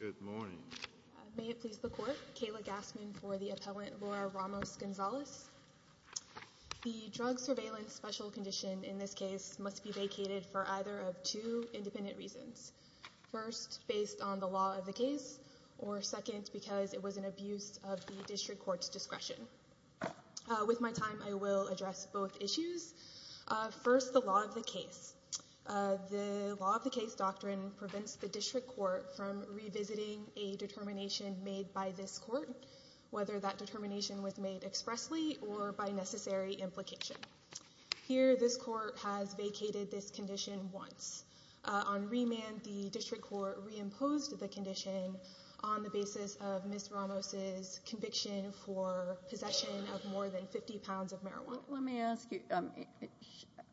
Good morning. May it please the court. Kayla Gassman for the appellant Laura Ramos-Gonzales. The drug surveillance special condition in this case must be vacated for either of two independent reasons. First, based on the law of the case, or second, because it was an abuse of the district court's discretion. With my time, I will address both issues. First, the law of the case. The law of the case doctrine prevents the district court from revisiting a determination made by this court, whether that determination was made expressly, or by necessary implication. Here, this court has vacated this condition once. On remand, the district court reimposed the condition on the basis of Ms. Ramos' conviction for possession of more than 50 pounds of marijuana. Let me ask you,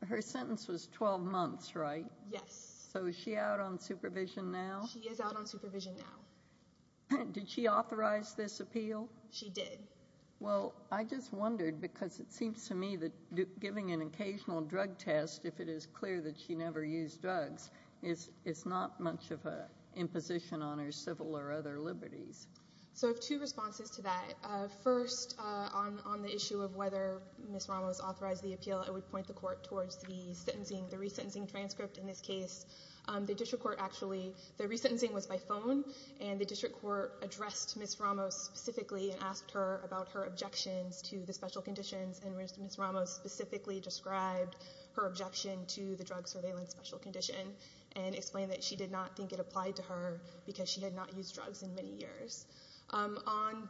her sentence was 12 months, right? Yes. So is she out on supervision now? She is out on supervision now. Did she authorize this appeal? She did. Well, I just wondered, because it seems to me that giving an occasional drug test, if it is clear that she never used drugs, is not much of an imposition on her civil or other liberties. So I have two responses to that. First, on the issue of whether Ms. Ramos authorized the appeal, I would point the court towards the sentencing, the resentencing transcript in this case. The district court actually, the resentencing was by phone, and the district court addressed Ms. Ramos specifically and asked her about her objections to the special conditions, and Ms. Ramos specifically described her objection to the drug surveillance special condition and explained that she did not think it applied to her because she had not used drugs in many years. On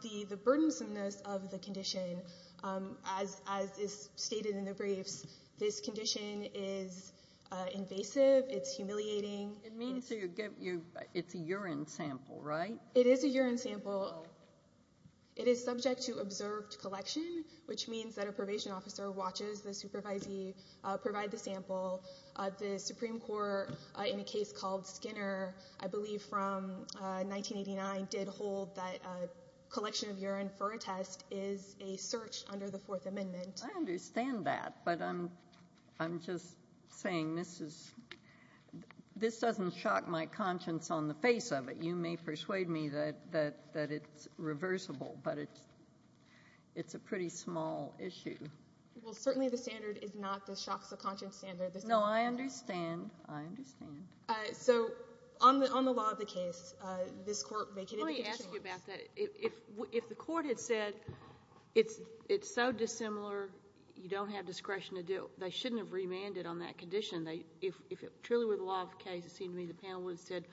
the burdensomeness of the condition, as is stated in the briefs, this condition is invasive, it's humiliating. It's a urine sample, right? It is a urine sample. It is subject to observed collection, which means that a probation officer watches the supervisee provide the sample. The Supreme Court, in a case called Skinner, I believe from 1989, did hold that a collection of urine for a test is a search under the Fourth Amendment. I understand that, but I'm just saying this is, this doesn't shock my conscience on the face of it. You may persuade me that it's reversible, but it's a pretty small issue. Well, certainly the standard is not the shock subconscience standard. No, I understand. I understand. So, on the law of the case, this court vacated the condition once. Let me ask you about that. If the court had said it's so dissimilar, you don't have discretion to do it, they shouldn't have remanded on that condition. If it truly were the law of the case, it seems to me the panel would have said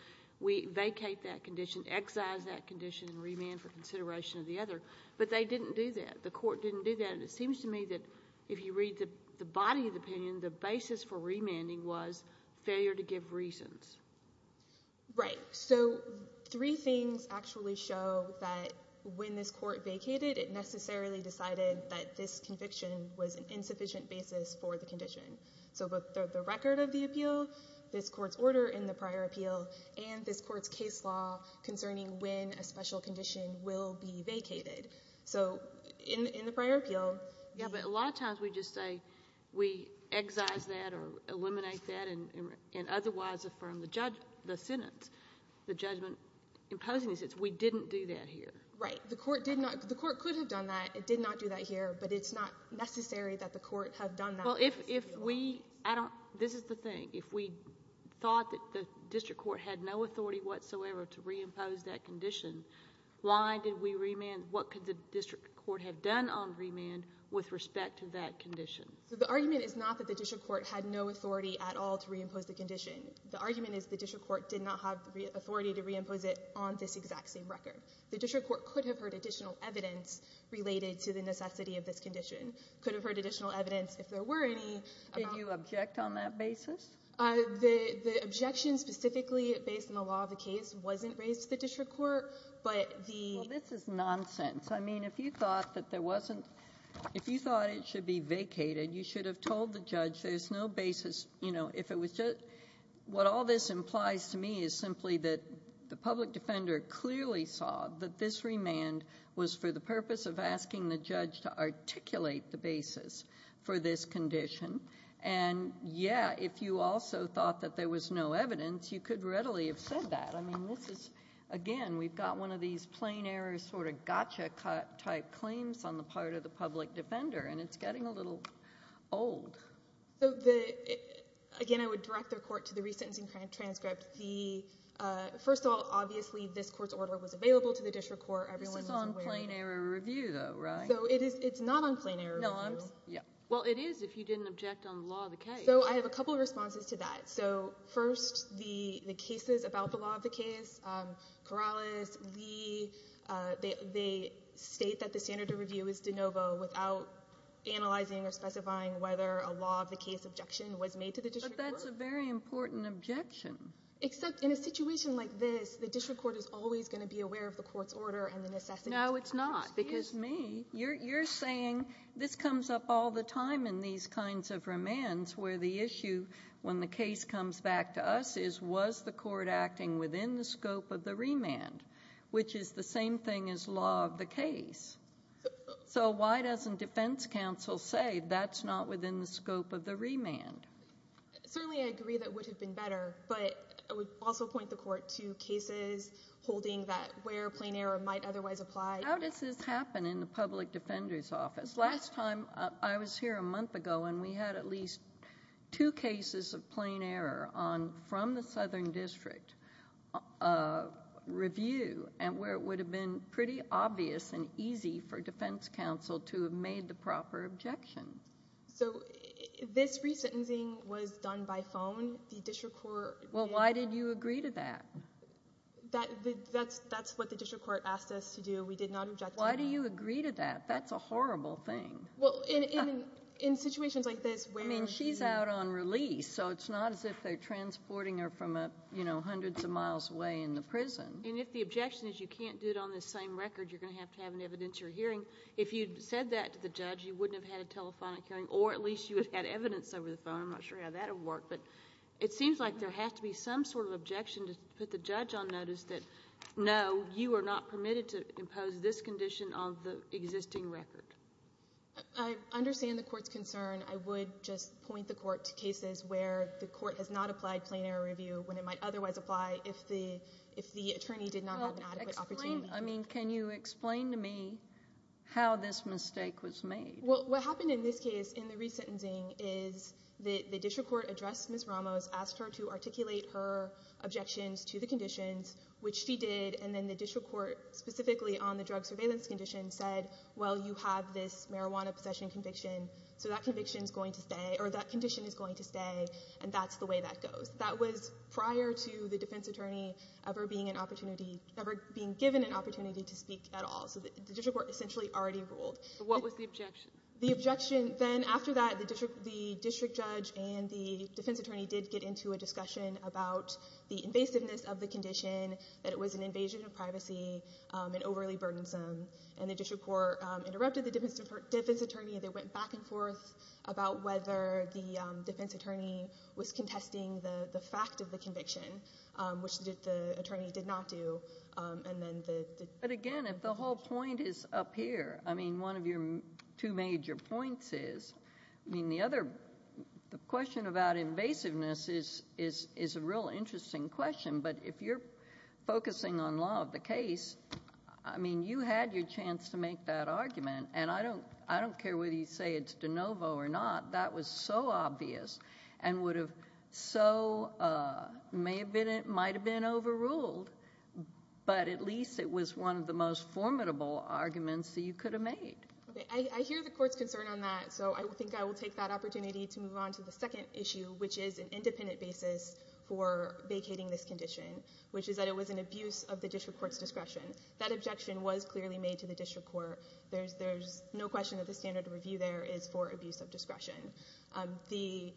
we vacate that condition, excise that condition, and remand for consideration of the other. But they didn't do that. The court didn't do that, and it seems to me that if you read the body of opinion, the basis for remanding was failure to give reasons. Right. So, three things actually show that when this court vacated, it necessarily decided that this conviction was an insufficient basis for the condition. So, the record of the appeal, this court's order in the prior appeal, and this court's case law concerning when a special condition will be vacated. So, in the prior appeal. Yeah, but a lot of times we just say we excise that or eliminate that and otherwise affirm the sentence, the judgment, imposing the sentence. We didn't do that here. Right. The court did not. The court could have done that. It did not do that here, but it's not necessary that the court have done that. Well, if we, I don't, this is the thing. If we thought that the district court had no authority whatsoever to reimpose that condition, why did we remand? What could the district court have done on remand with respect to that condition? So, the argument is not that the district court had no authority at all to reimpose the condition. The argument is the district court did not have authority to reimpose it on this exact same record. The district court could have heard additional evidence related to the necessity of this condition, could have heard additional evidence if there were any. Did you object on that basis? The objection specifically based on the law of the case wasn't raised to the district court, but the... Well, this is nonsense. I mean, if you thought that there wasn't, if you thought it should be vacated, you should have told the judge there's no basis, you know, if it was just... And, yeah, if you also thought that there was no evidence, you could readily have said that. I mean, this is, again, we've got one of these plain error sort of gotcha type claims on the part of the public defender, and it's getting a little old. So, again, I would direct the court to the resentencing transcript. First of all, obviously, this court's order was available to the district court. This is on plain error review, though, right? So, it's not on plain error review. Well, it is if you didn't object on the law of the case. So, I have a couple of responses to that. So, first, the cases about the law of the case, Corrales, Lee, they state that the standard of review is de novo without analyzing or specifying whether a law of the case objection was made to the district court. But that's a very important objection. Except in a situation like this, the district court is always going to be aware of the court's order and the necessity... No, it's not. Excuse me. You're saying this comes up all the time in these kinds of remands where the issue, when the case comes back to us, is was the court acting within the scope of the remand, which is the same thing as law of the case. So, why doesn't defense counsel say that's not within the scope of the remand? Certainly, I agree that it would have been better, but I would also point the court to cases holding that where plain error might otherwise apply. How does this happen in the public defender's office? Last time I was here, a month ago, and we had at least two cases of plain error from the southern district review and where it would have been pretty obvious and easy for defense counsel to have made the proper objection. So, this resentencing was done by phone. The district court... Well, why did you agree to that? That's what the district court asked us to do. We did not object to that. Why do you agree to that? That's a horrible thing. Well, in situations like this where... I mean, she's out on release, so it's not as if they're transporting her from, you know, hundreds of miles away in the prison. And if the objection is you can't do it on the same record, you're going to have to have an evidence you're hearing. If you'd said that to the judge, you wouldn't have had a telephonic hearing, or at least you would have had evidence over the phone. I'm not sure how that would work. But it seems like there has to be some sort of objection to put the judge on notice that, no, you are not permitted to impose this condition on the existing record. I understand the court's concern. I would just point the court to cases where the court has not applied plain error review when it might otherwise apply if the attorney did not have an adequate opportunity. I mean, can you explain to me how this mistake was made? Well, what happened in this case in the resentencing is the district court addressed Ms. Ramos, asked her to articulate her objections to the conditions, which she did, and then the district court specifically on the drug surveillance condition said, well, you have this marijuana possession conviction, so that conviction is going to stay, or that condition is going to stay, and that's the way that goes. That was prior to the defense attorney ever being an opportunity, ever being given an opportunity to speak at all. So the district court essentially already ruled. What was the objection? The objection then, after that, the district judge and the defense attorney did get into a discussion about the invasiveness of the condition, that it was an invasion of privacy and overly burdensome, and the district court interrupted the defense attorney. They went back and forth about whether the defense attorney was contesting the fact of the conviction, which the attorney did not do, and then the ---- But, again, if the whole point is up here, I mean, one of your two major points is, I mean, the other, the question about invasiveness is a real interesting question, but if you're focusing on law of the case, I mean, you had your chance to make that argument, and I don't care whether you say it's de novo or not. That was so obvious and would have so, may have been, might have been overruled, but at least it was one of the most formidable arguments that you could have made. I hear the court's concern on that, so I think I will take that opportunity to move on to the second issue, which is an independent basis for vacating this condition, which is that it was an abuse of the district court's discretion. That objection was clearly made to the district court. There's no question that the standard of review there is for abuse of discretion. The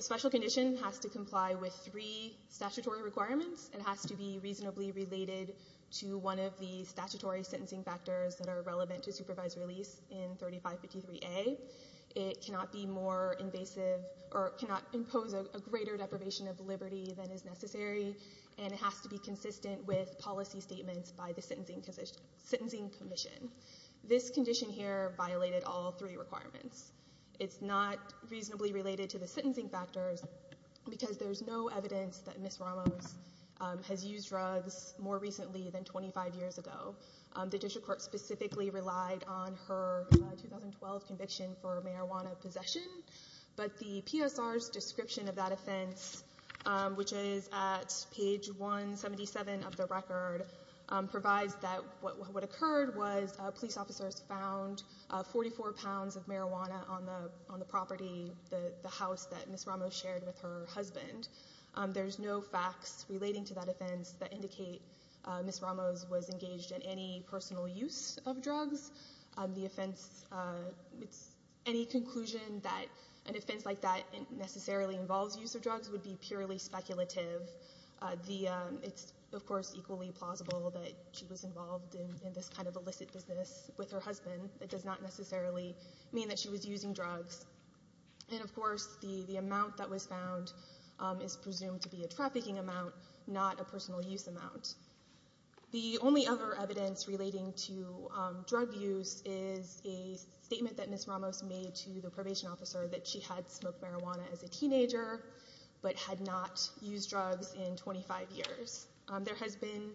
special condition has to comply with three statutory requirements. It has to be reasonably related to one of the statutory sentencing factors that are relevant to supervised release in 3553A. It cannot be more invasive or cannot impose a greater deprivation of liberty than is necessary, and it has to be consistent with policy statements by the sentencing commission. This condition here violated all three requirements. It's not reasonably related to the sentencing factors because there's no evidence that Ms. Ramos has used drugs more recently than 25 years ago. The district court specifically relied on her 2012 conviction for marijuana possession, but the PSR's description of that offense, which is at page 177 of the record, provides that what occurred was police officers found 44 pounds of marijuana on the property, the house that Ms. Ramos shared with her husband. There's no facts relating to that offense that indicate Ms. Ramos was engaged in any personal use of drugs. The offense, any conclusion that an offense like that necessarily involves use of drugs would be purely speculative. It's, of course, equally plausible that she was involved in this kind of illicit business with her husband. It does not necessarily mean that she was using drugs. And, of course, the amount that was found is presumed to be a trafficking amount, not a personal use amount. The only other evidence relating to drug use is a statement that Ms. Ramos made to the probation officer that she had smoked marijuana as a teenager but had not used drugs in 25 years. There has been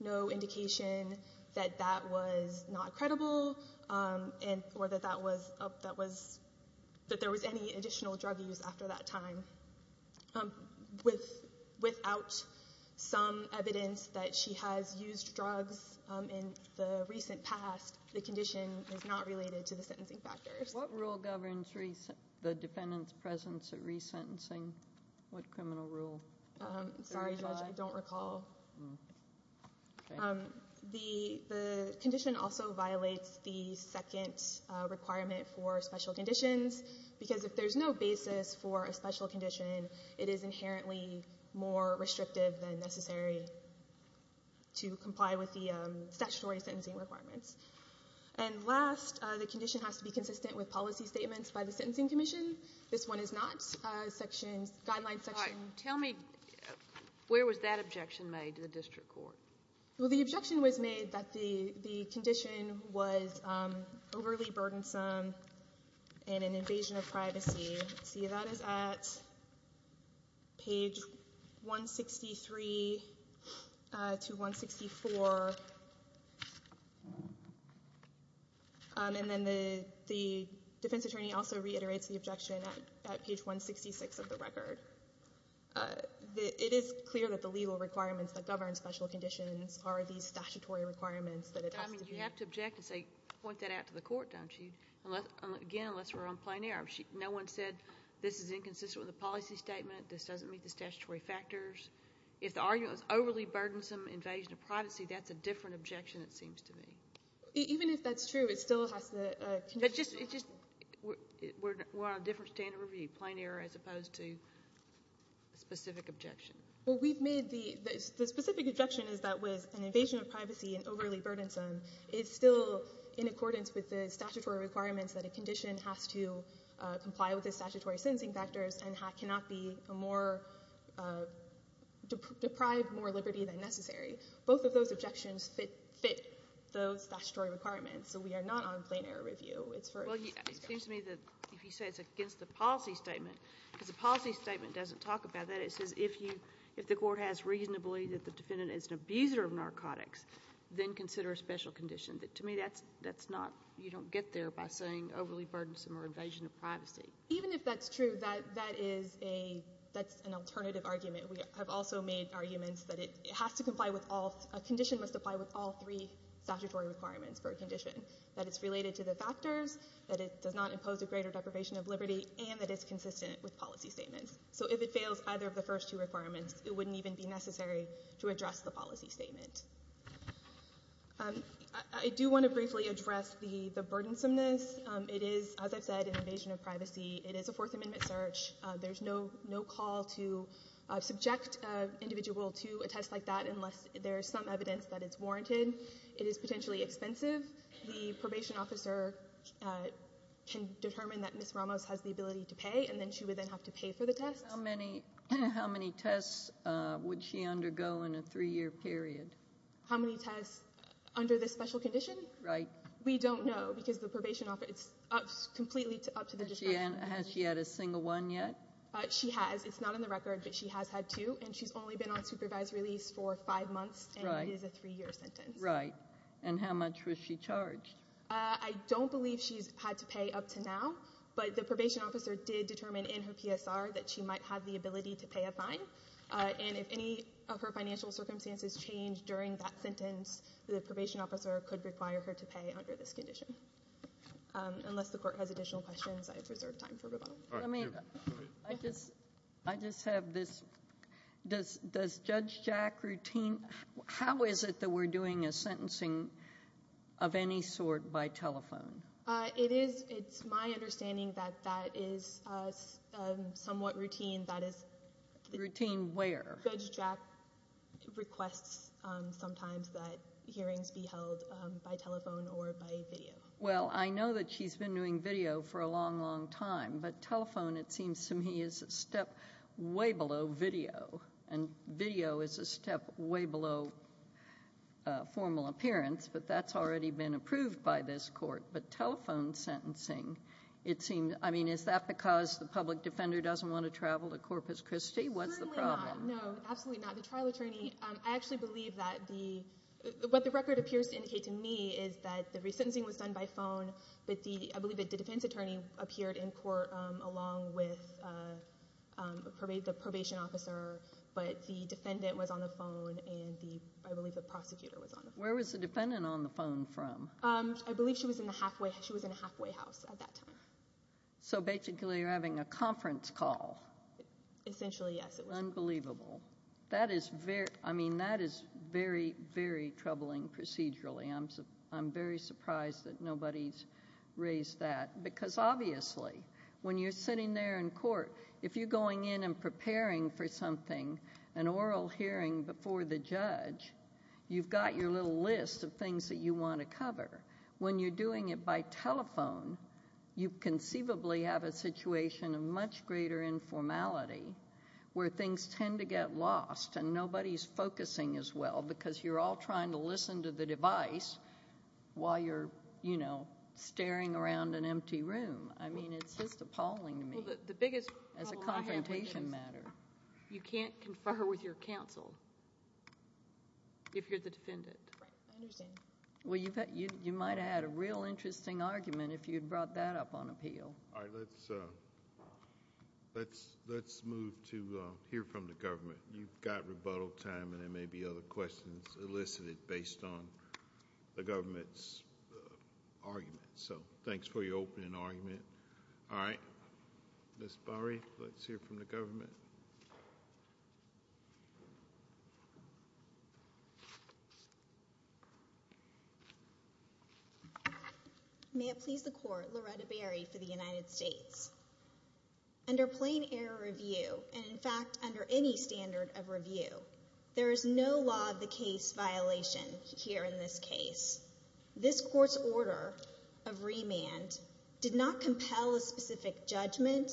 no indication that that was not credible or that there was any additional drug use after that time. Without some evidence that she has used drugs in the recent past, the condition is not related to the sentencing factors. What rule governs the defendant's presence at resentencing? What criminal rule? Sorry, Judge, I don't recall. Okay. The condition also violates the second requirement for special conditions because if there's no basis for a special condition, it is inherently more restrictive than necessary to comply with the statutory sentencing requirements. And last, the condition has to be consistent with policy statements by the Sentencing Commission. This one is not. All right. Tell me where was that objection made to the district court? Well, the objection was made that the condition was overly burdensome and an invasion of privacy. See, that is at page 163 to 164. And then the defense attorney also reiterates the objection at page 166 of the record. It is clear that the legal requirements that govern special conditions are these statutory requirements that it has to be. I mean, you have to object and say, point that out to the court, don't you? Again, unless we're on plain error. No one said this is inconsistent with the policy statement, this doesn't meet the statutory factors. If the argument was overly burdensome invasion of privacy, that's a different objection, it seems to me. Even if that's true, it still has the condition. We're on a different standard of review, plain error as opposed to a specific objection. Well, the specific objection is that with an invasion of privacy and overly burdensome, it's still in accordance with the statutory requirements that a condition has to comply with the statutory sentencing factors and cannot deprive more liberty than necessary. Both of those objections fit those statutory requirements. So we are not on plain error review. Well, it seems to me that if you say it's against the policy statement, because the policy statement doesn't talk about that. It says if the court has reason to believe that the defendant is an abuser of narcotics, then consider a special condition. To me, that's not, you don't get there by saying overly burdensome or invasion of privacy. Even if that's true, that is a, that's an alternative argument. We have also made arguments that it has to comply with all, a condition must apply with all three statutory requirements for a condition. That it's related to the factors, that it does not impose a greater deprivation of liberty, and that it's consistent with policy statements. So if it fails either of the first two requirements, it wouldn't even be necessary to address the policy statement. I do want to briefly address the burdensomeness. It is, as I've said, an invasion of privacy. It is a Fourth Amendment search. There's no call to subject an individual to a test like that unless there's some evidence that it's warranted. It is potentially expensive. The probation officer can determine that Ms. Ramos has the ability to pay, and then she would then have to pay for the test. How many tests would she undergo in a three-year period? How many tests under this special condition? Right. We don't know, because the probation officer, it's completely up to the district. Has she had a single one yet? She has. It's not in the record, but she has had two, and she's only been on supervised release for five months, and it is a three-year sentence. Right. And how much was she charged? I don't believe she's had to pay up to now, but the probation officer did determine in her PSR that she might have the ability to pay a fine. And if any of her financial circumstances change during that sentence, the probation officer could require her to pay under this condition. Unless the court has additional questions, I have reserved time for rebuttal. All right. I just have this. Does Judge Jack routine? How is it that we're doing a sentencing of any sort by telephone? It's my understanding that that is somewhat routine. Routine where? Judge Jack requests sometimes that hearings be held by telephone or by video. Well, I know that she's been doing video for a long, long time, but telephone, it seems to me, is a step way below video, and video is a step way below formal appearance, but that's already been approved by this court. But telephone sentencing, I mean, is that because the public defender doesn't want to travel to Corpus Christi? What's the problem? No, absolutely not. The trial attorney, I actually believe that what the record appears to indicate to me is that the resentencing was done by phone, but I believe that the defense attorney appeared in court along with the probation officer, but the defendant was on the phone, and I believe the prosecutor was on the phone. Where was the defendant on the phone from? I believe she was in a halfway house at that time. So basically you're having a conference call. Essentially, yes. Unbelievable. That is very troubling procedurally. I'm very surprised that nobody's raised that, because obviously when you're sitting there in court, if you're going in and preparing for something, an oral hearing before the judge, you've got your little list of things that you want to cover. When you're doing it by telephone, you conceivably have a situation of much greater informality where things tend to get lost and nobody's focusing as well because you're all trying to listen to the device while you're staring around an empty room. I mean, it's just appalling to me as a confrontation matter. Well, the biggest problem I have with this, you can't confer with your counsel if you're the defendant. Right. I understand. Well, you might have had a real interesting argument if you'd brought that up on appeal. All right. Let's move to hear from the government. You've got rebuttal time, and there may be other questions elicited based on the government's argument. So thanks for your opening argument. All right. Ms. Barri, let's hear from the government. May it please the Court, Loretta Barri for the United States. Under plain error review, and in fact under any standard of review, there is no law of the case violation here in this case. This court's order of remand did not compel a specific judgment,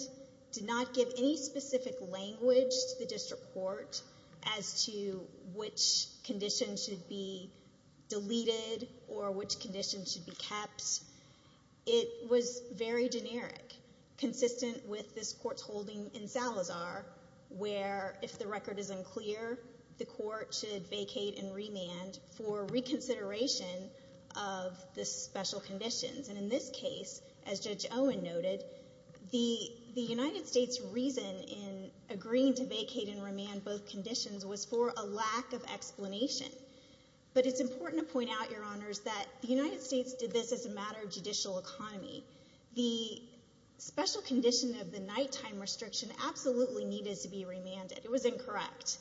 did not give any specific language to the district court as to which condition should be deleted or which condition should be kept. It was very generic, consistent with this court's holding in Salazar, where if the record is unclear, the court should vacate and remand for reconsideration of the special conditions. And in this case, as Judge Owen noted, the United States' reason in agreeing to vacate and remand both conditions was for a lack of explanation. But it's important to point out, Your Honors, that the United States did this as a matter of judicial economy. The special condition of the nighttime restriction absolutely needed to be remanded. It was incorrect.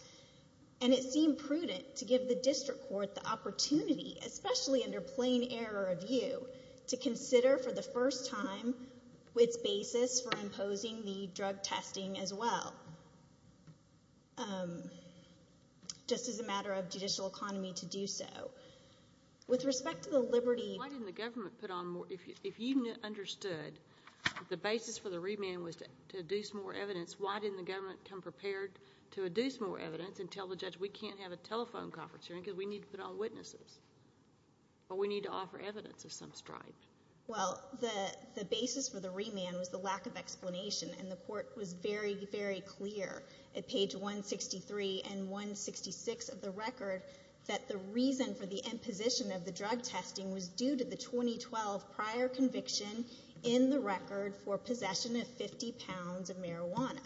And it seemed prudent to give the district court the opportunity, especially under plain error review, to consider for the first time its basis for imposing the drug testing as well, just as a matter of judicial economy to do so. With respect to the liberty— Why didn't the government put on more— If you understood the basis for the remand was to deduce more evidence, why didn't the government come prepared to deduce more evidence and tell the judge we can't have a telephone conference hearing because we need to put on witnesses or we need to offer evidence of some stripe? Well, the basis for the remand was the lack of explanation, and the court was very, very clear at page 163 and 166 of the record that the reason for the imposition of the drug testing was due to the 2012 prior conviction in the record for possession of 50 pounds of marijuana.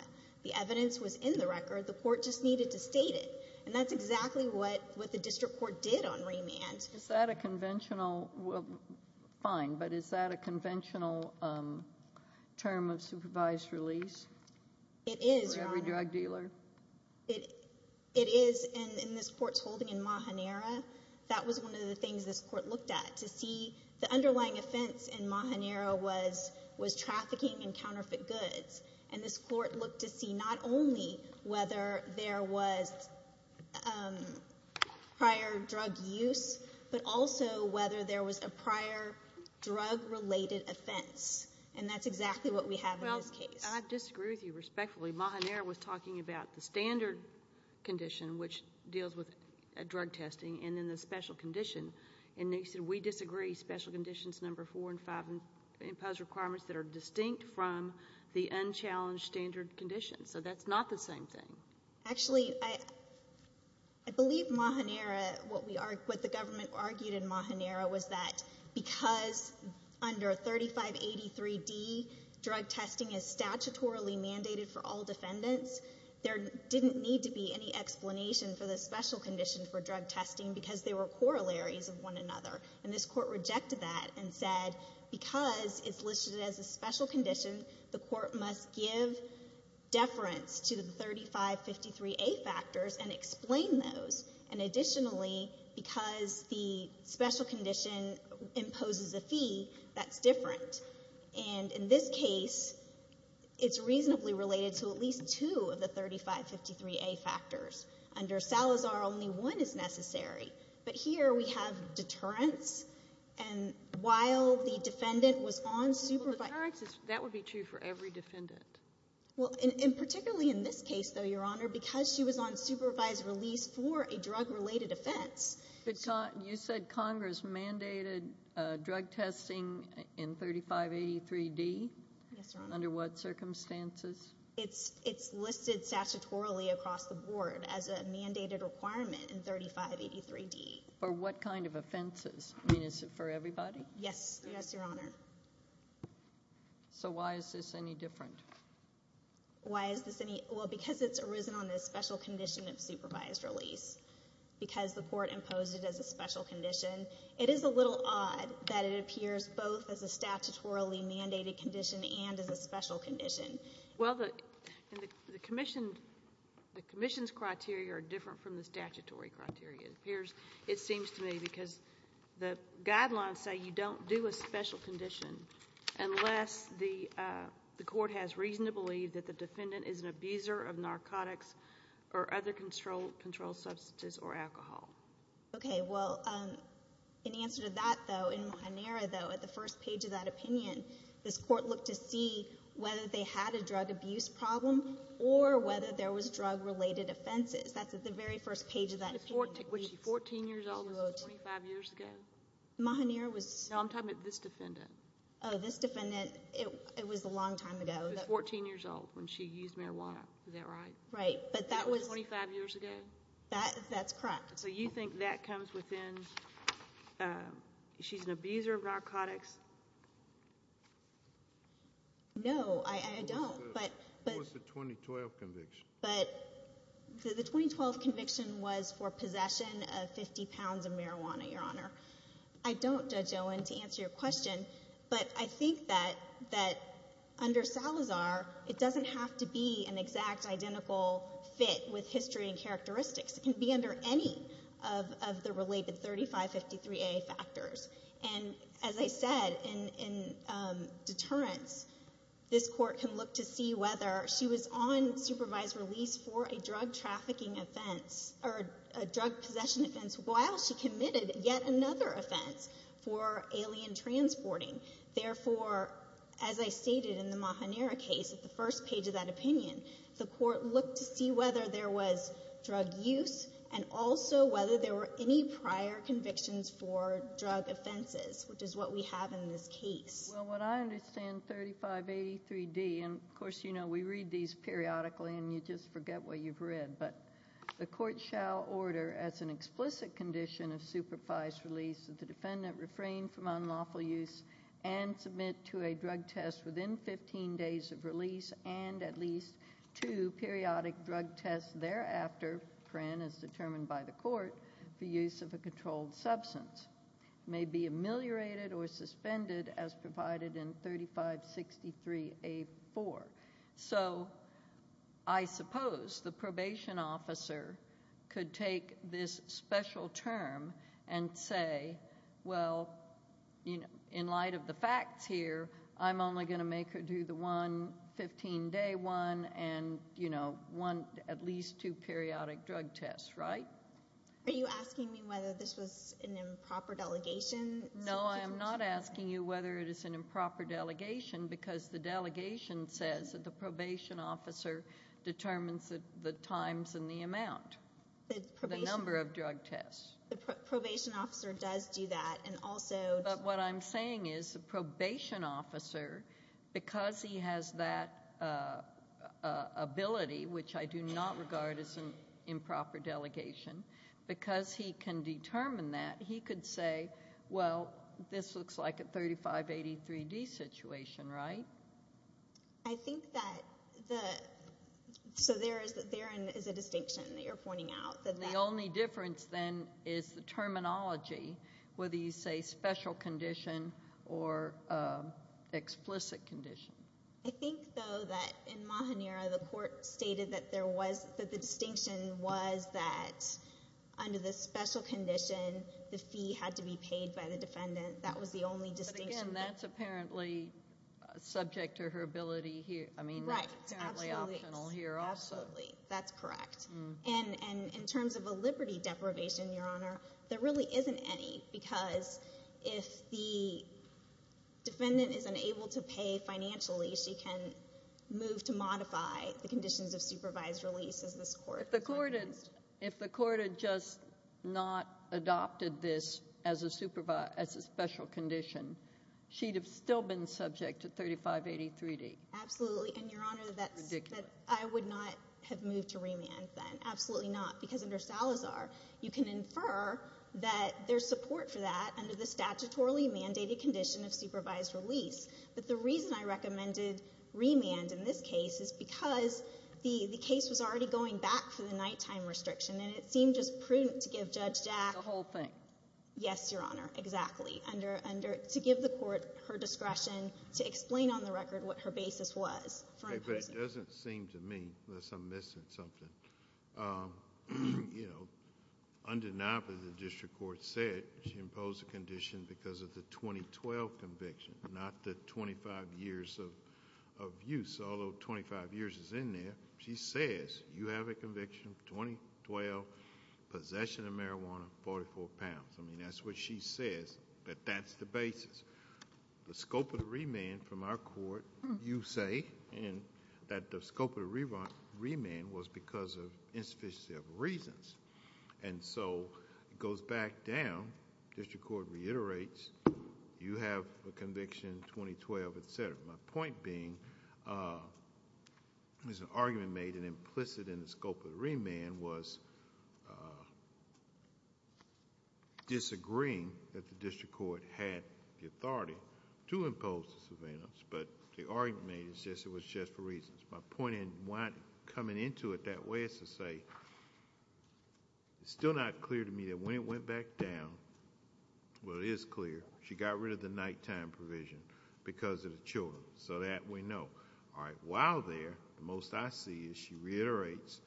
The evidence was in the record. The court just needed to state it, and that's exactly what the district court did on remand. Is that a conventional—well, fine, but is that a conventional term of supervised release? It is, Your Honor. For every drug dealer? It is, and in this court's holding in Mahanera, that was one of the things this court looked at, to see the underlying offense in Mahanera was trafficking in counterfeit goods, and this court looked to see not only whether there was prior drug use but also whether there was a prior drug-related offense, and that's exactly what we have in this case. Well, I disagree with you respectfully. Mahanera was talking about the standard condition, which deals with drug testing, and then the special condition, and they said we disagree. Special conditions number four and five impose requirements that are distinct from the unchallenged standard conditions, so that's not the same thing. Actually, I believe Mahanera, what the government argued in Mahanera, was that because under 3583D, drug testing is statutorily mandated for all defendants, there didn't need to be any explanation for the special condition for drug testing because they were corollaries of one another, and this court rejected that and said because it's listed as a special condition, the court must give deference to the 3553A factors and explain those, and additionally, because the special condition imposes a fee, that's different, and in this case, it's reasonably related to at least two of the 3553A factors. Under Salazar, only one is necessary, but here we have deterrence, and while the defendant was on supervised release. Well, deterrence, that would be true for every defendant. Well, and particularly in this case, though, Your Honor, because she was on supervised release for a drug-related offense. But you said Congress mandated drug testing in 3583D? Yes, Your Honor. Under what circumstances? It's listed statutorily across the board as a mandated requirement in 3583D. For what kind of offenses? I mean, is it for everybody? Yes, Your Honor. So why is this any different? Well, because it's arisen on the special condition of supervised release because the court imposed it as a special condition. It is a little odd that it appears both as a statutorily mandated condition and as a special condition. Well, the commission's criteria are different from the statutory criteria. It seems to me because the guidelines say you don't do a special condition unless the court has reason to believe that the defendant is an abuser of narcotics or other controlled substances or alcohol. Okay. Well, in answer to that, though, in Mahanira, though, at the first page of that opinion, this court looked to see whether they had a drug abuse problem or whether there was drug-related offenses. That's at the very first page of that opinion. Was she 14 years old when this was 25 years ago? No, I'm talking about this defendant. Oh, this defendant. It was a long time ago. She was 14 years old when she used marijuana. Is that right? Right. That was 25 years ago? That's correct. So you think that comes within she's an abuser of narcotics? No, I don't. What was the 2012 conviction? The 2012 conviction was for possession of 50 pounds of marijuana, Your Honor. I don't, Judge Owen, to answer your question, but I think that under Salazar, it doesn't have to be an exact identical fit with history and characteristics. It can be under any of the related 3553A factors. And as I said, in deterrence, this court can look to see whether she was on supervised release for a drug trafficking offense or a drug possession offense while she committed yet another offense for alien transporting. Therefore, as I stated in the Mahanera case, at the first page of that opinion, the court looked to see whether there was drug use and also whether there were any prior convictions for drug offenses, which is what we have in this case. Well, what I understand 3583D, and, of course, you know, we read these periodically and you just forget what you've read, but the court shall order as an explicit condition of supervised release that the defendant refrain from unlawful use and submit to a drug test within 15 days of release and at least two periodic drug tests thereafter, as determined by the court, for use of a controlled substance. It may be ameliorated or suspended as provided in 3563A4. So I suppose the probation officer could take this special term and say, well, in light of the facts here, I'm only going to make her do the one 15-day one and, you know, at least two periodic drug tests, right? Are you asking me whether this was an improper delegation? No, I am not asking you whether it is an improper delegation because the delegation says that the probation officer determines the times and the amount, the number of drug tests. The probation officer does do that and also... But what I'm saying is the probation officer, because he has that ability, which I do not regard as an improper delegation, because he can determine that, he could say, well, this looks like a 3583D situation, right? I think that the... So there is a distinction that you're pointing out. The only difference, then, is the terminology, whether you say special condition or explicit condition. I think, though, that in Mahanira, the court stated that the distinction was that under the special condition, the fee had to be paid by the defendant. That was the only distinction that... But, again, that's apparently subject to her ability here. I mean, that's apparently optional here also. Right, absolutely. Absolutely. That's correct. And in terms of a liberty deprivation, Your Honor, there really isn't any because if the defendant is unable to pay financially, she can move to modify the conditions of supervised release, as this court... If the court had just not adopted this as a special condition, she'd have still been subject to 3583D. Absolutely. And, Your Honor, I would not have moved to remand then. Absolutely not, because under Salazar, you can infer that there's support for that under the statutorily mandated condition of supervised release. But the reason I recommended remand in this case is because the case was already going back to the nighttime restriction, and it seemed just prudent to give Judge Jack... The whole thing. Yes, Your Honor, exactly. To give the court her discretion to explain on the record what her basis was. But it doesn't seem to me unless I'm missing something. Undeniably, the district court said she imposed the condition because of the 2012 conviction, not the 25 years of use, although 25 years is in there. She says you have a conviction, 2012, possession of marijuana, 44 pounds. I mean, that's what she says, but that's the basis. The scope of the remand from our court, you say, and that the scope of the remand was because of insufficiency of reasons. And so it goes back down. The district court reiterates, you have a conviction, 2012, et cetera. My point being, there's an argument made and implicit in the scope of the remand was disagreeing that the district court had the authority to impose the surveillance, but the argument made is it was just for reasons. My point in coming into it that way is to say it's still not clear to me that when it went back down, well, it is clear, she got rid of the nighttime provision because of the children, so that we know. All right, while there, the most I see is she reiterates,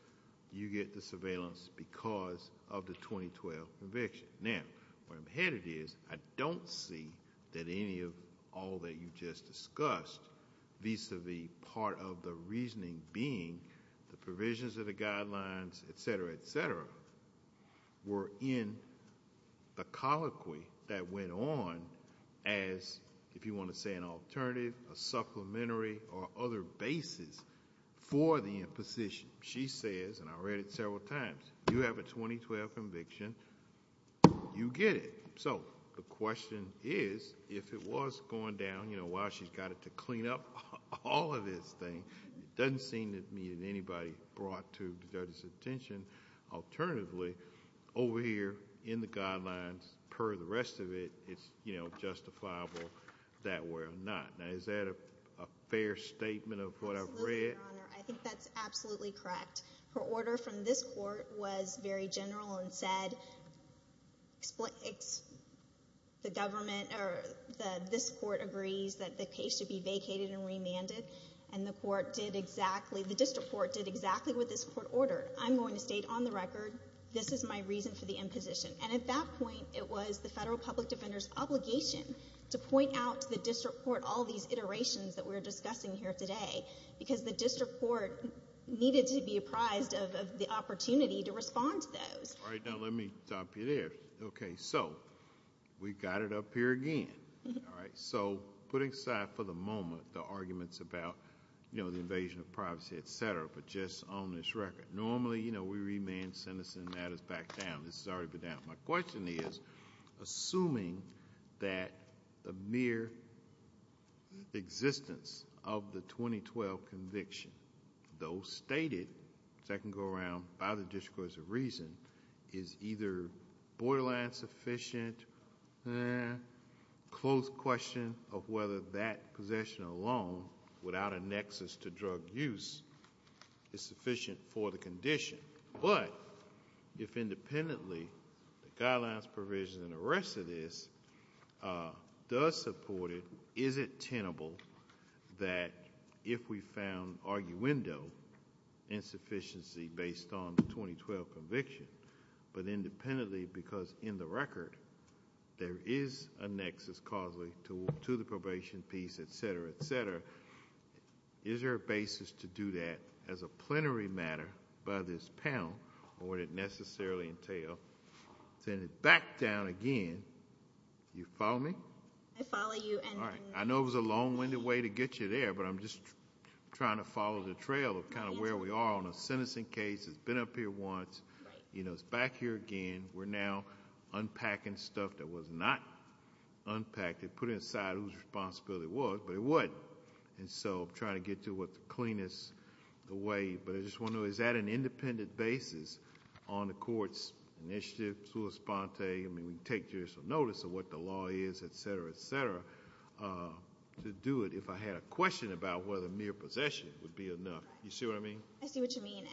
you get the surveillance because of the 2012 conviction. Now, where I'm headed is I don't see that any of all that you just discussed vis-à-vis part of the reasoning being the provisions of the guidelines, et cetera, et cetera, were in the colloquy that went on as, if you want to say an alternative, a supplementary or other basis for the imposition. She says, and I read it several times, you have a 2012 conviction, you get it. So the question is, if it was going down, you know, while she's got it to clean up all of this thing, it doesn't seem to me that anybody brought to the judge's attention. Alternatively, over here in the guidelines per the rest of it, it's justifiable that way or not. Now, is that a fair statement of what I've read? Absolutely, Your Honor. I think that's absolutely correct. Her order from this court was very general and said the government or this court agrees that the case should be vacated and remanded, and the court did exactly, the district court did exactly what this court ordered. I'm going to state on the record, this is my reason for the imposition. And at that point, it was the federal public defender's obligation to point out to the district court all these iterations that we're discussing here today, because the district court needed to be apprised of the opportunity to respond to those. All right, now let me stop you there. Okay, so we've got it up here again. All right, so putting aside for the moment the arguments about, you know, the invasion of privacy, et cetera, but just on this record, normally, you know, we remand sentencing matters back down. This has already been down. My question is, assuming that the mere existence of the 2012 conviction, though stated, as I can go around by the district court's reason, is either borderline sufficient, eh, close question of whether that possession alone without a nexus to drug use is sufficient for the condition. But if independently, the guidelines, provisions, and the rest of this does support it, is it tenable that if we found arguendo insufficiency based on the 2012 conviction, but independently because in the record there is a nexus causally to the probation piece, et cetera, et cetera, is there a basis to do that as a plenary matter by this panel or would it necessarily entail sending it back down again? Do you follow me? I follow you. All right. I know it was a long-winded way to get you there, but I'm just trying to follow the trail of kind of where we are on a sentencing case. It's been up here once. You know, it's back here again. We're now unpacking stuff that was not unpacked and put inside whose responsibility it was, but it was. And so I'm trying to get to what's the cleanest way. But I just wonder, is that an independent basis on the court's initiative, I mean we take judicial notice of what the law is, et cetera, et cetera, to do it if I had a question about whether mere possession would be enough. You see what I mean? I see what you mean.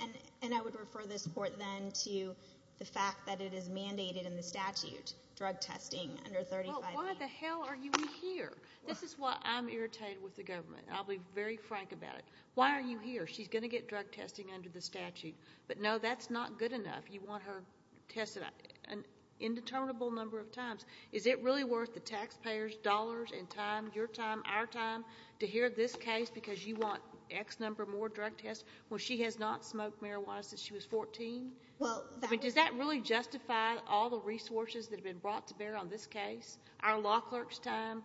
And I would refer this court then to the fact that it is mandated in the statute, drug testing under 35A. Well, why the hell are we here? This is why I'm irritated with the government. I'll be very frank about it. Why are you here? She's going to get drug testing under the statute. But, no, that's not good enough. You want her tested an indeterminable number of times. Is it really worth the taxpayers' dollars and time, your time, our time, to hear this case because you want X number more drug tests when she has not smoked marijuana since she was 14? I mean, does that really justify all the resources that have been brought to bear on this case, our law clerk's time,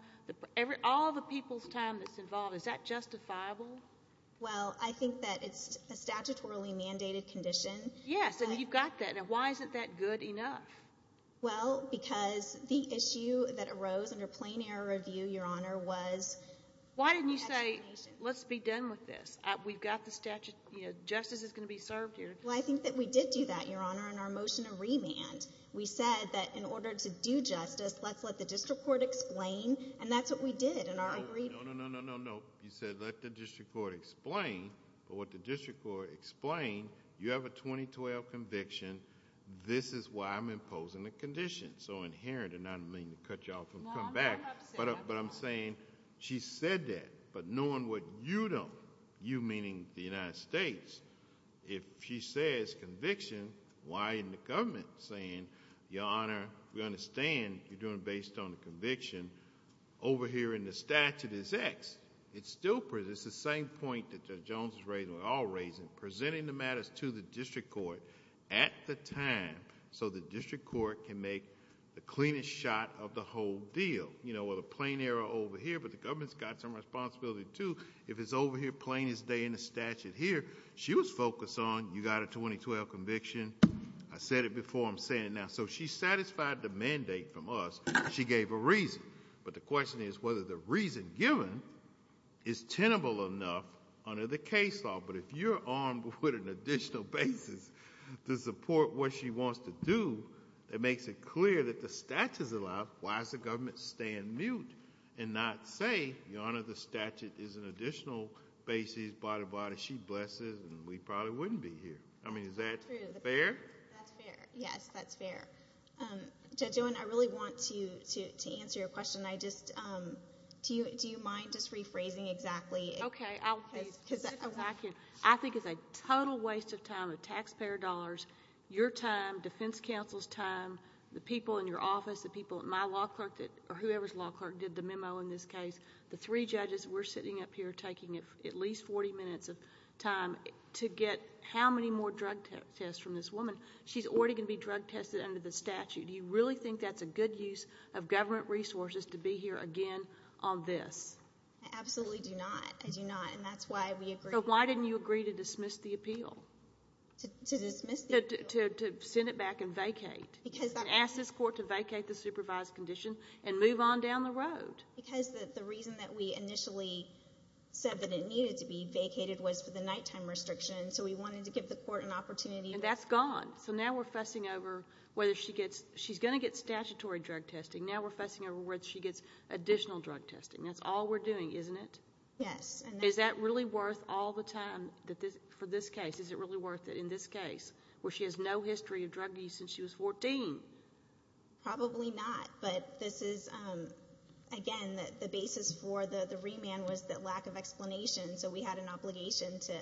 all the people's time that's involved? Is that justifiable? Well, I think that it's a statutorily mandated condition. Yes, and you've got that. Now, why isn't that good enough? Well, because the issue that arose under plain error review, Your Honor, was actualization. Why didn't you say let's be done with this? We've got the statute. Justice is going to be served here. Well, I think that we did do that, Your Honor, in our motion of remand. We said that in order to do justice, let's let the district court explain, and that's what we did in our brief. No, no, no, no, no, no. You said let the district court explain. But what the district court explained, you have a 2012 conviction. This is why I'm imposing the condition. So inherent, and I don't mean to cut you off from coming back. No, I'm not upset. But I'm saying she said that, but knowing what you don't, you meaning the United States, if she says conviction, why isn't the government saying, Your Honor, we understand you're doing it based on the conviction. Over here in the statute is X. It's the same point that Judge Jones is raising, we're all raising, presenting the matters to the district court at the time, so the district court can make the cleanest shot of the whole deal. You know, with a plain error over here, but the government's got some responsibility, too. If it's over here, plain as day in the statute here, she was focused on you got a 2012 conviction. I said it before, I'm saying it now. So she satisfied the mandate from us. She gave a reason. But the question is whether the reason given is tenable enough under the case law. But if you're armed with an additional basis to support what she wants to do, that makes it clear that the statute is allowed, why is the government staying mute and not say, Your Honor, the statute is an additional basis, blah, blah, blah. She blesses, and we probably wouldn't be here. I mean, is that fair? That's fair. Yes, that's fair. Judge Owen, I really want to answer your question. Do you mind just rephrasing exactly? Okay. I think it's a total waste of time, of taxpayer dollars, your time, defense counsel's time, the people in your office, the people at my law clerk or whoever's law clerk did the memo in this case, the three judges, we're sitting up here taking at least 40 minutes of time to get how many more drug tests from this woman. She's already going to be drug tested under the statute. Do you really think that's a good use of government resources to be here again on this? I absolutely do not. I do not, and that's why we agreed. To dismiss the appeal? To send it back and vacate. And ask this court to vacate the supervised condition and move on down the road. Because the reason that we initially said that it needed to be vacated was for the nighttime restriction, so we wanted to give the court an opportunity. And that's gone. So now we're fussing over whether she's going to get statutory drug testing. Now we're fussing over whether she gets additional drug testing. That's all we're doing, isn't it? Yes. Is that really worth all the time for this case? Is it really worth it in this case? Where she has no history of drug use since she was 14. Probably not. But this is, again, the basis for the remand was the lack of explanation, so we had an obligation to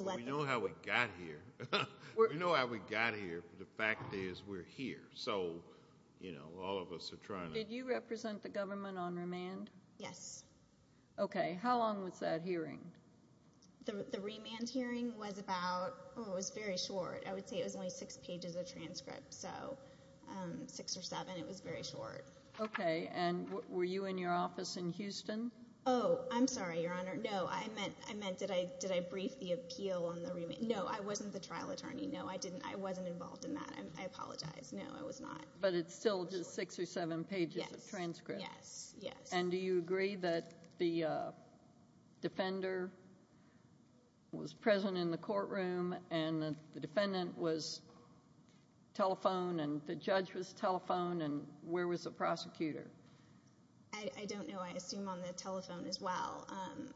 let them know. We know how we got here. We know how we got here, but the fact is we're here. So, you know, all of us are trying to. Did you represent the government on remand? Yes. Okay. How long was that hearing? The remand hearing was about, oh, it was very short. I would say it was only six pages of transcript, so six or seven. It was very short. Okay. And were you in your office in Houston? Oh, I'm sorry, Your Honor. No, I meant did I brief the appeal on the remand? No, I wasn't the trial attorney. No, I didn't. I wasn't involved in that. I apologize. No, I was not. But it's still just six or seven pages of transcript. Yes. Yes. And do you agree that the defender was present in the courtroom and the defendant was telephoned and the judge was telephoned and where was the prosecutor? I don't know. I assume on the telephone as well.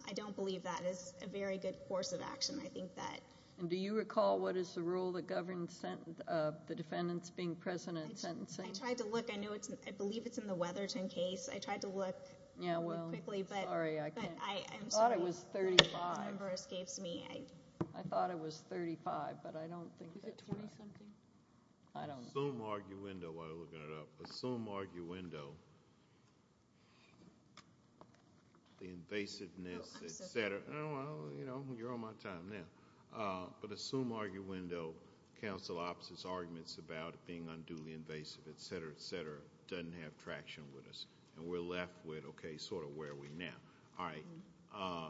I don't believe that is a very good course of action. I think that... And do you recall what is the rule that governs the defendants being present in sentencing? I tried to look. I believe it's in the Weatherton case. I tried to look. Yeah, well... Quickly, but... Sorry, I can't... I'm sorry. I thought it was 35. This number escapes me. I thought it was 35, but I don't think that's right. Is it 20-something? I don't know. Assume arguendo while you're looking it up. Assume arguendo. The invasiveness, et cetera. Oh, I'm sorry. Oh, well, you know, you're on my time now. But assume arguendo, counsel opposes arguments about it being unduly invasive, et cetera, et cetera. It doesn't have traction with us. We're left with, okay, sort of where are we now? All right.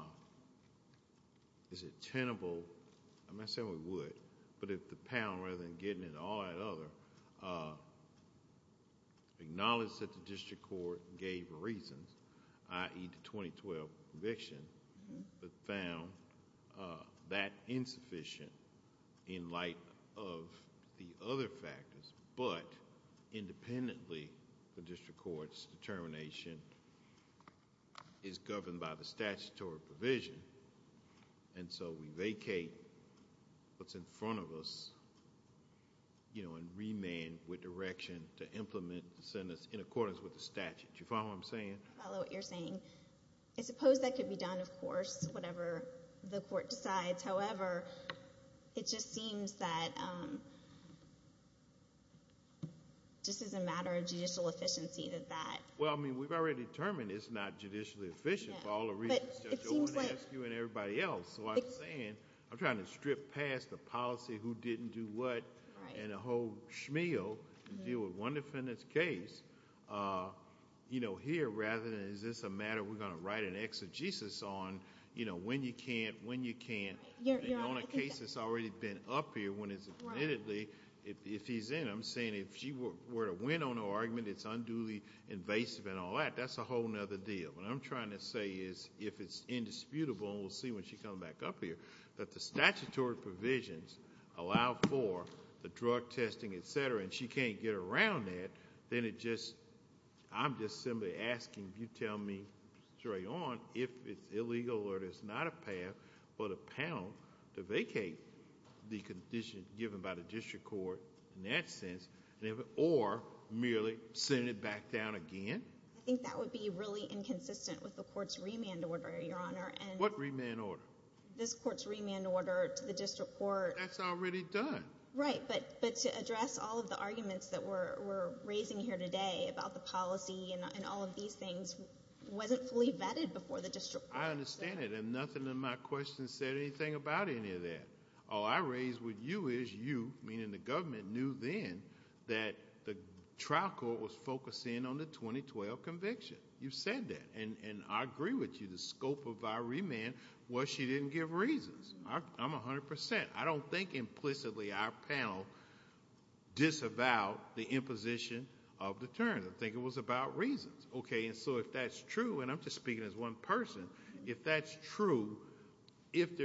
Is it tenable... I'm not saying we would, but if the panel, rather than getting into all that other... Acknowledge that the district court gave reasons, i.e., the 2012 conviction, but found that insufficient in light of the other factors, but independently the district court's determination is governed by the statutory provision, and so we vacate what's in front of us and remand with direction to implement the sentence in accordance with the statute. Do you follow what I'm saying? I follow what you're saying. I suppose that could be done, of course, whatever the court decides. However, it just seems that just as a matter of judicial efficiency that that... Well, I mean, we've already determined it's not judicially efficient for all the reasons Judge Owen asked you and everybody else. So I'm saying, I'm trying to strip past the policy who didn't do what and a whole shmeal and deal with one defendant's case. Here, rather than is this a matter we're going to write an exegesis on, you know, when you can't, when you can't, and on a case that's already been up here, when it's admittedly, if he's in, I'm saying if she were to win on her argument, it's unduly invasive and all that, that's a whole other deal. What I'm trying to say is if it's indisputable, and we'll see when she comes back up here, that the statutory provisions allow for the drug testing, et cetera, and she can't get around that, then it just... but a panel to vacate the condition given by the district court in that sense, or merely send it back down again? I think that would be really inconsistent with the court's remand order, Your Honor. What remand order? This court's remand order to the district court. That's already done. Right, but to address all of the arguments that we're raising here today about the policy and all of these things wasn't fully vetted before the district court. Yes, I understand it, and nothing in my question said anything about any of that. All I raised with you is you, meaning the government, knew then that the trial court was focusing on the 2012 conviction. You said that, and I agree with you. The scope of our remand was she didn't give reasons. I'm 100 percent. I don't think implicitly our panel disavowed the imposition of deterrence. I think it was about reasons. Okay, and so if that's true, and I'm just speaking as one person, if that's true, if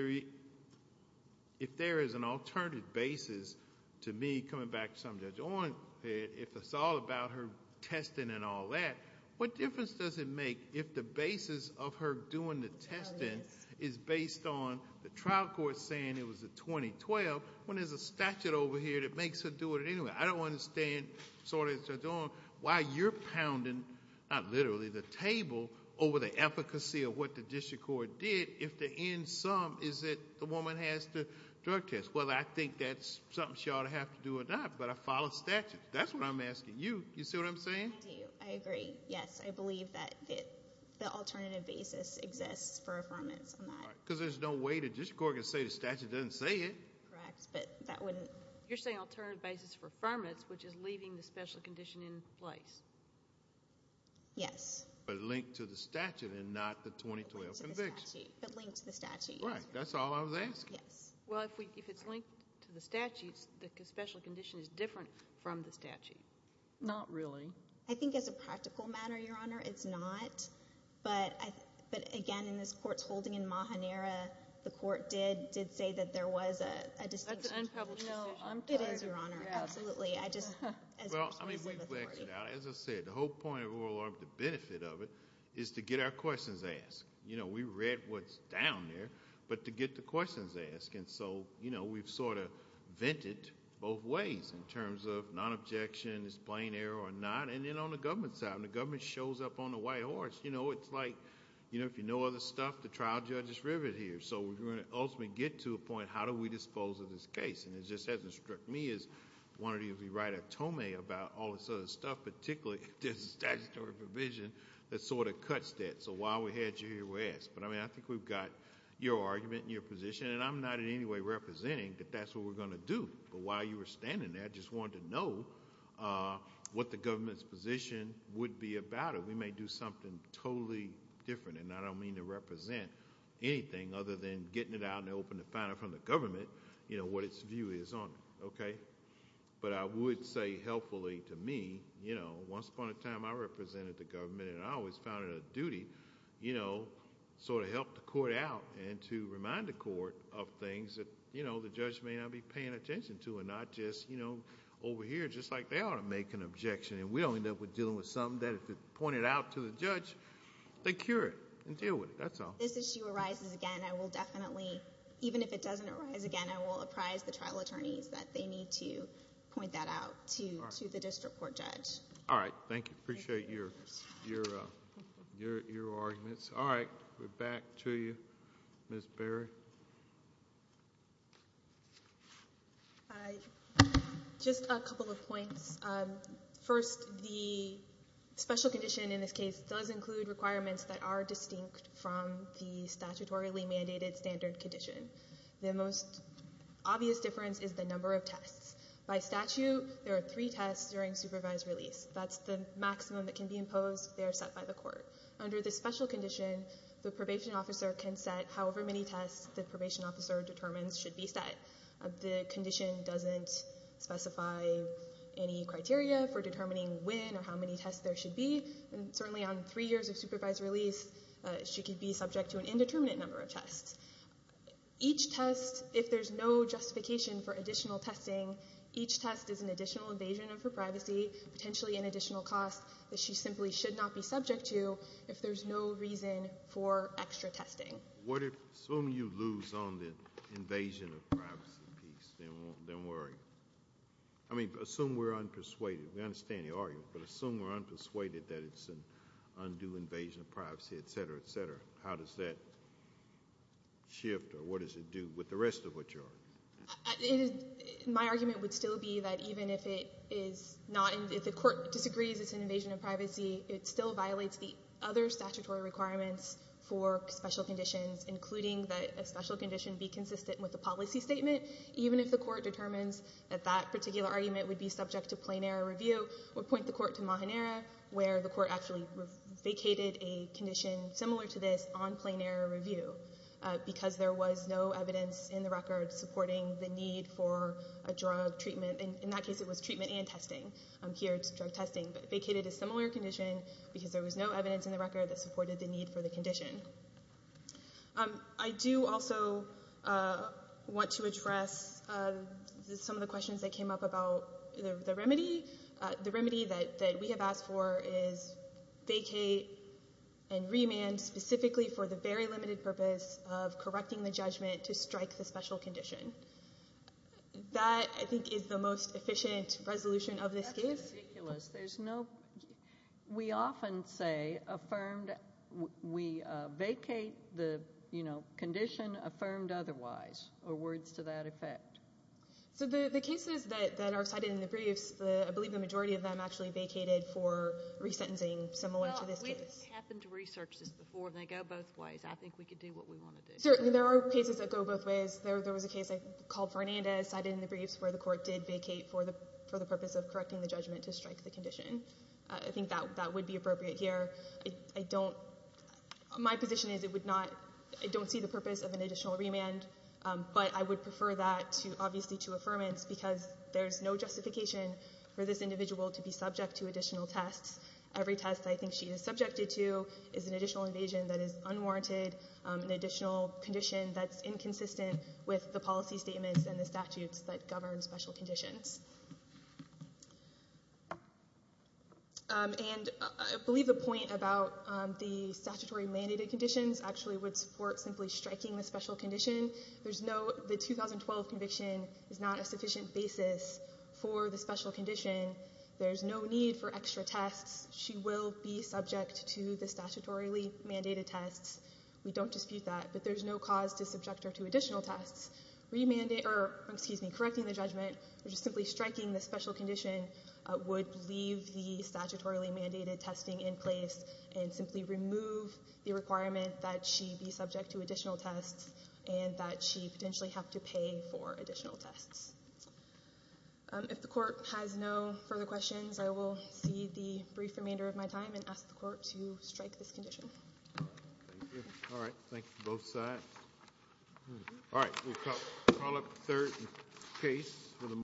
there is an alternative basis to me coming back to something Judge Ong said, if it's all about her testing and all that, what difference does it make if the basis of her doing the testing is based on the trial court saying it was the 2012 when there's a statute over here that makes her do it anyway? I don't understand, Sotomayor Judge Ong, why you're pounding, not literally, the table over the efficacy of what the district court did if the end sum is that the woman has to drug test. Well, I think that's something she ought to have to do or not, but I follow statute. That's what I'm asking you. You see what I'm saying? I do. I agree. Yes, I believe that the alternative basis exists for affirmance on that. Because there's no way the district court can say the statute doesn't say it. Correct, but that wouldn't. You're saying alternative basis for affirmance, which is leaving the special condition in place. Yes. But linked to the statute and not the 2012 conviction. But linked to the statute. Right. That's all I was asking. Yes. Well, if it's linked to the statute, the special condition is different from the statute. Not really. I think as a practical matter, Your Honor, it's not, but again, in this court's holding in Mahanera, the court did say that there was a distinction. That's an unpublished decision. No, it is, Your Honor. Absolutely. Well, I mean, as I said, the whole point of oral argument, the benefit of it, is to get our questions asked. We read what's down there, but to get the questions asked. And so we've sort of vented both ways in terms of non-objection, it's plain error or not. And then on the government side, when the government shows up on the white horse, it's like if you know other stuff, the trial judge is riveted here. And so we're going to ultimately get to a point, how do we dispose of this case? And it just hasn't struck me as wanting to be right at Tomei about all this other stuff, particularly if there's a statutory provision that sort of cuts that. So while we had you here, we asked. But, I mean, I think we've got your argument and your position, and I'm not in any way representing that that's what we're going to do. But while you were standing there, I just wanted to know what the government's position would be about it. We may do something totally different. And I don't mean to represent anything other than getting it out in the open to find out from the government, you know, what its view is on it, okay? But I would say helpfully to me, you know, once upon a time I represented the government and I always found it a duty, you know, sort of help the court out and to remind the court of things that, you know, the judge may not be paying attention to and not just, you know, over here, just like they ought to make an objection. And we don't end up with dealing with something that if it's pointed out to the judge, they cure it and deal with it. That's all. If this issue arises again, I will definitely, even if it doesn't arise again, I will apprise the trial attorneys that they need to point that out to the district court judge. All right. Thank you. Appreciate your arguments. All right. We're back to you, Ms. Berry. Just a couple of points. First, the special condition in this case does include requirements that are distinct from the statutorily mandated standard condition. The most obvious difference is the number of tests. By statute, there are three tests during supervised release. That's the maximum that can be imposed. They are set by the court. Under the special condition, the probation officer can set however many tests the probation officer determines should be set. The condition doesn't specify any criteria for determining when or how many tests there should be. And certainly on three years of supervised release, she could be subject to an indeterminate number of tests. Each test, if there's no justification for additional testing, each test is an additional invasion of her privacy, potentially an additional cost that she simply should not be subject to if there's no reason for extra testing. Assuming you lose on the invasion of privacy piece, then where are you? I mean, assume we're unpersuaded. We understand the argument, but assume we're unpersuaded that it's an undue invasion of privacy, et cetera, et cetera. How does that shift, or what does it do with the rest of what you're arguing? My argument would still be that even if the court disagrees it's an invasion of privacy, it still violates the other statutory requirements for special conditions, including that a special condition be consistent with the policy statement, even if the court determines that that particular argument would be subject to plain error review. I would point the court to Mahanera, where the court actually vacated a condition similar to this on plain error review, because there was no evidence in the record supporting the need for a drug treatment. In that case, it was treatment and testing. Here it's drug testing, but vacated a similar condition because there was no evidence in the record that supported the need for the condition. I do also want to address some of the questions that came up about the remedy. The remedy that we have asked for is vacate and remand specifically for the very limited purpose of correcting the judgment to strike the special condition. That, I think, is the most efficient resolution of this case. That's ridiculous. We often say we vacate the condition affirmed otherwise, or words to that effect. The cases that are cited in the briefs, I believe the majority of them actually vacated for resentencing similar to this case. We've happened to research this before, and they go both ways. I think we could do what we want to do. Certainly, there are cases that go both ways. There was a case I called Fernandez cited in the briefs where the court did vacate for the purpose of correcting the judgment to strike the condition. I think that would be appropriate here. My position is I don't see the purpose of an additional remand, but I would prefer that, obviously, to affirmance, because there's no justification for this individual to be subject to additional tests. Every test I think she is subjected to is an additional invasion that is unwarranted, an additional condition that's inconsistent with the policy statements and the statutes that govern special conditions. I believe the point about the statutory mandated conditions actually would support simply striking the special condition. The 2012 conviction is not a sufficient basis for the special condition. There's no need for extra tests. She will be subject to the statutorily mandated tests. We don't dispute that, but there's no cause to subject her to additional tests. Correcting the judgment or just simply striking the special condition would leave the statutorily mandated testing in place and simply remove the requirement that she be subject to additional tests and that she potentially have to pay for additional tests. If the court has no further questions, I will cede the brief remainder of my time and ask the court to strike this condition. Thank you. All right. Thank you, both sides. All right. We'll call up the third case for the morning.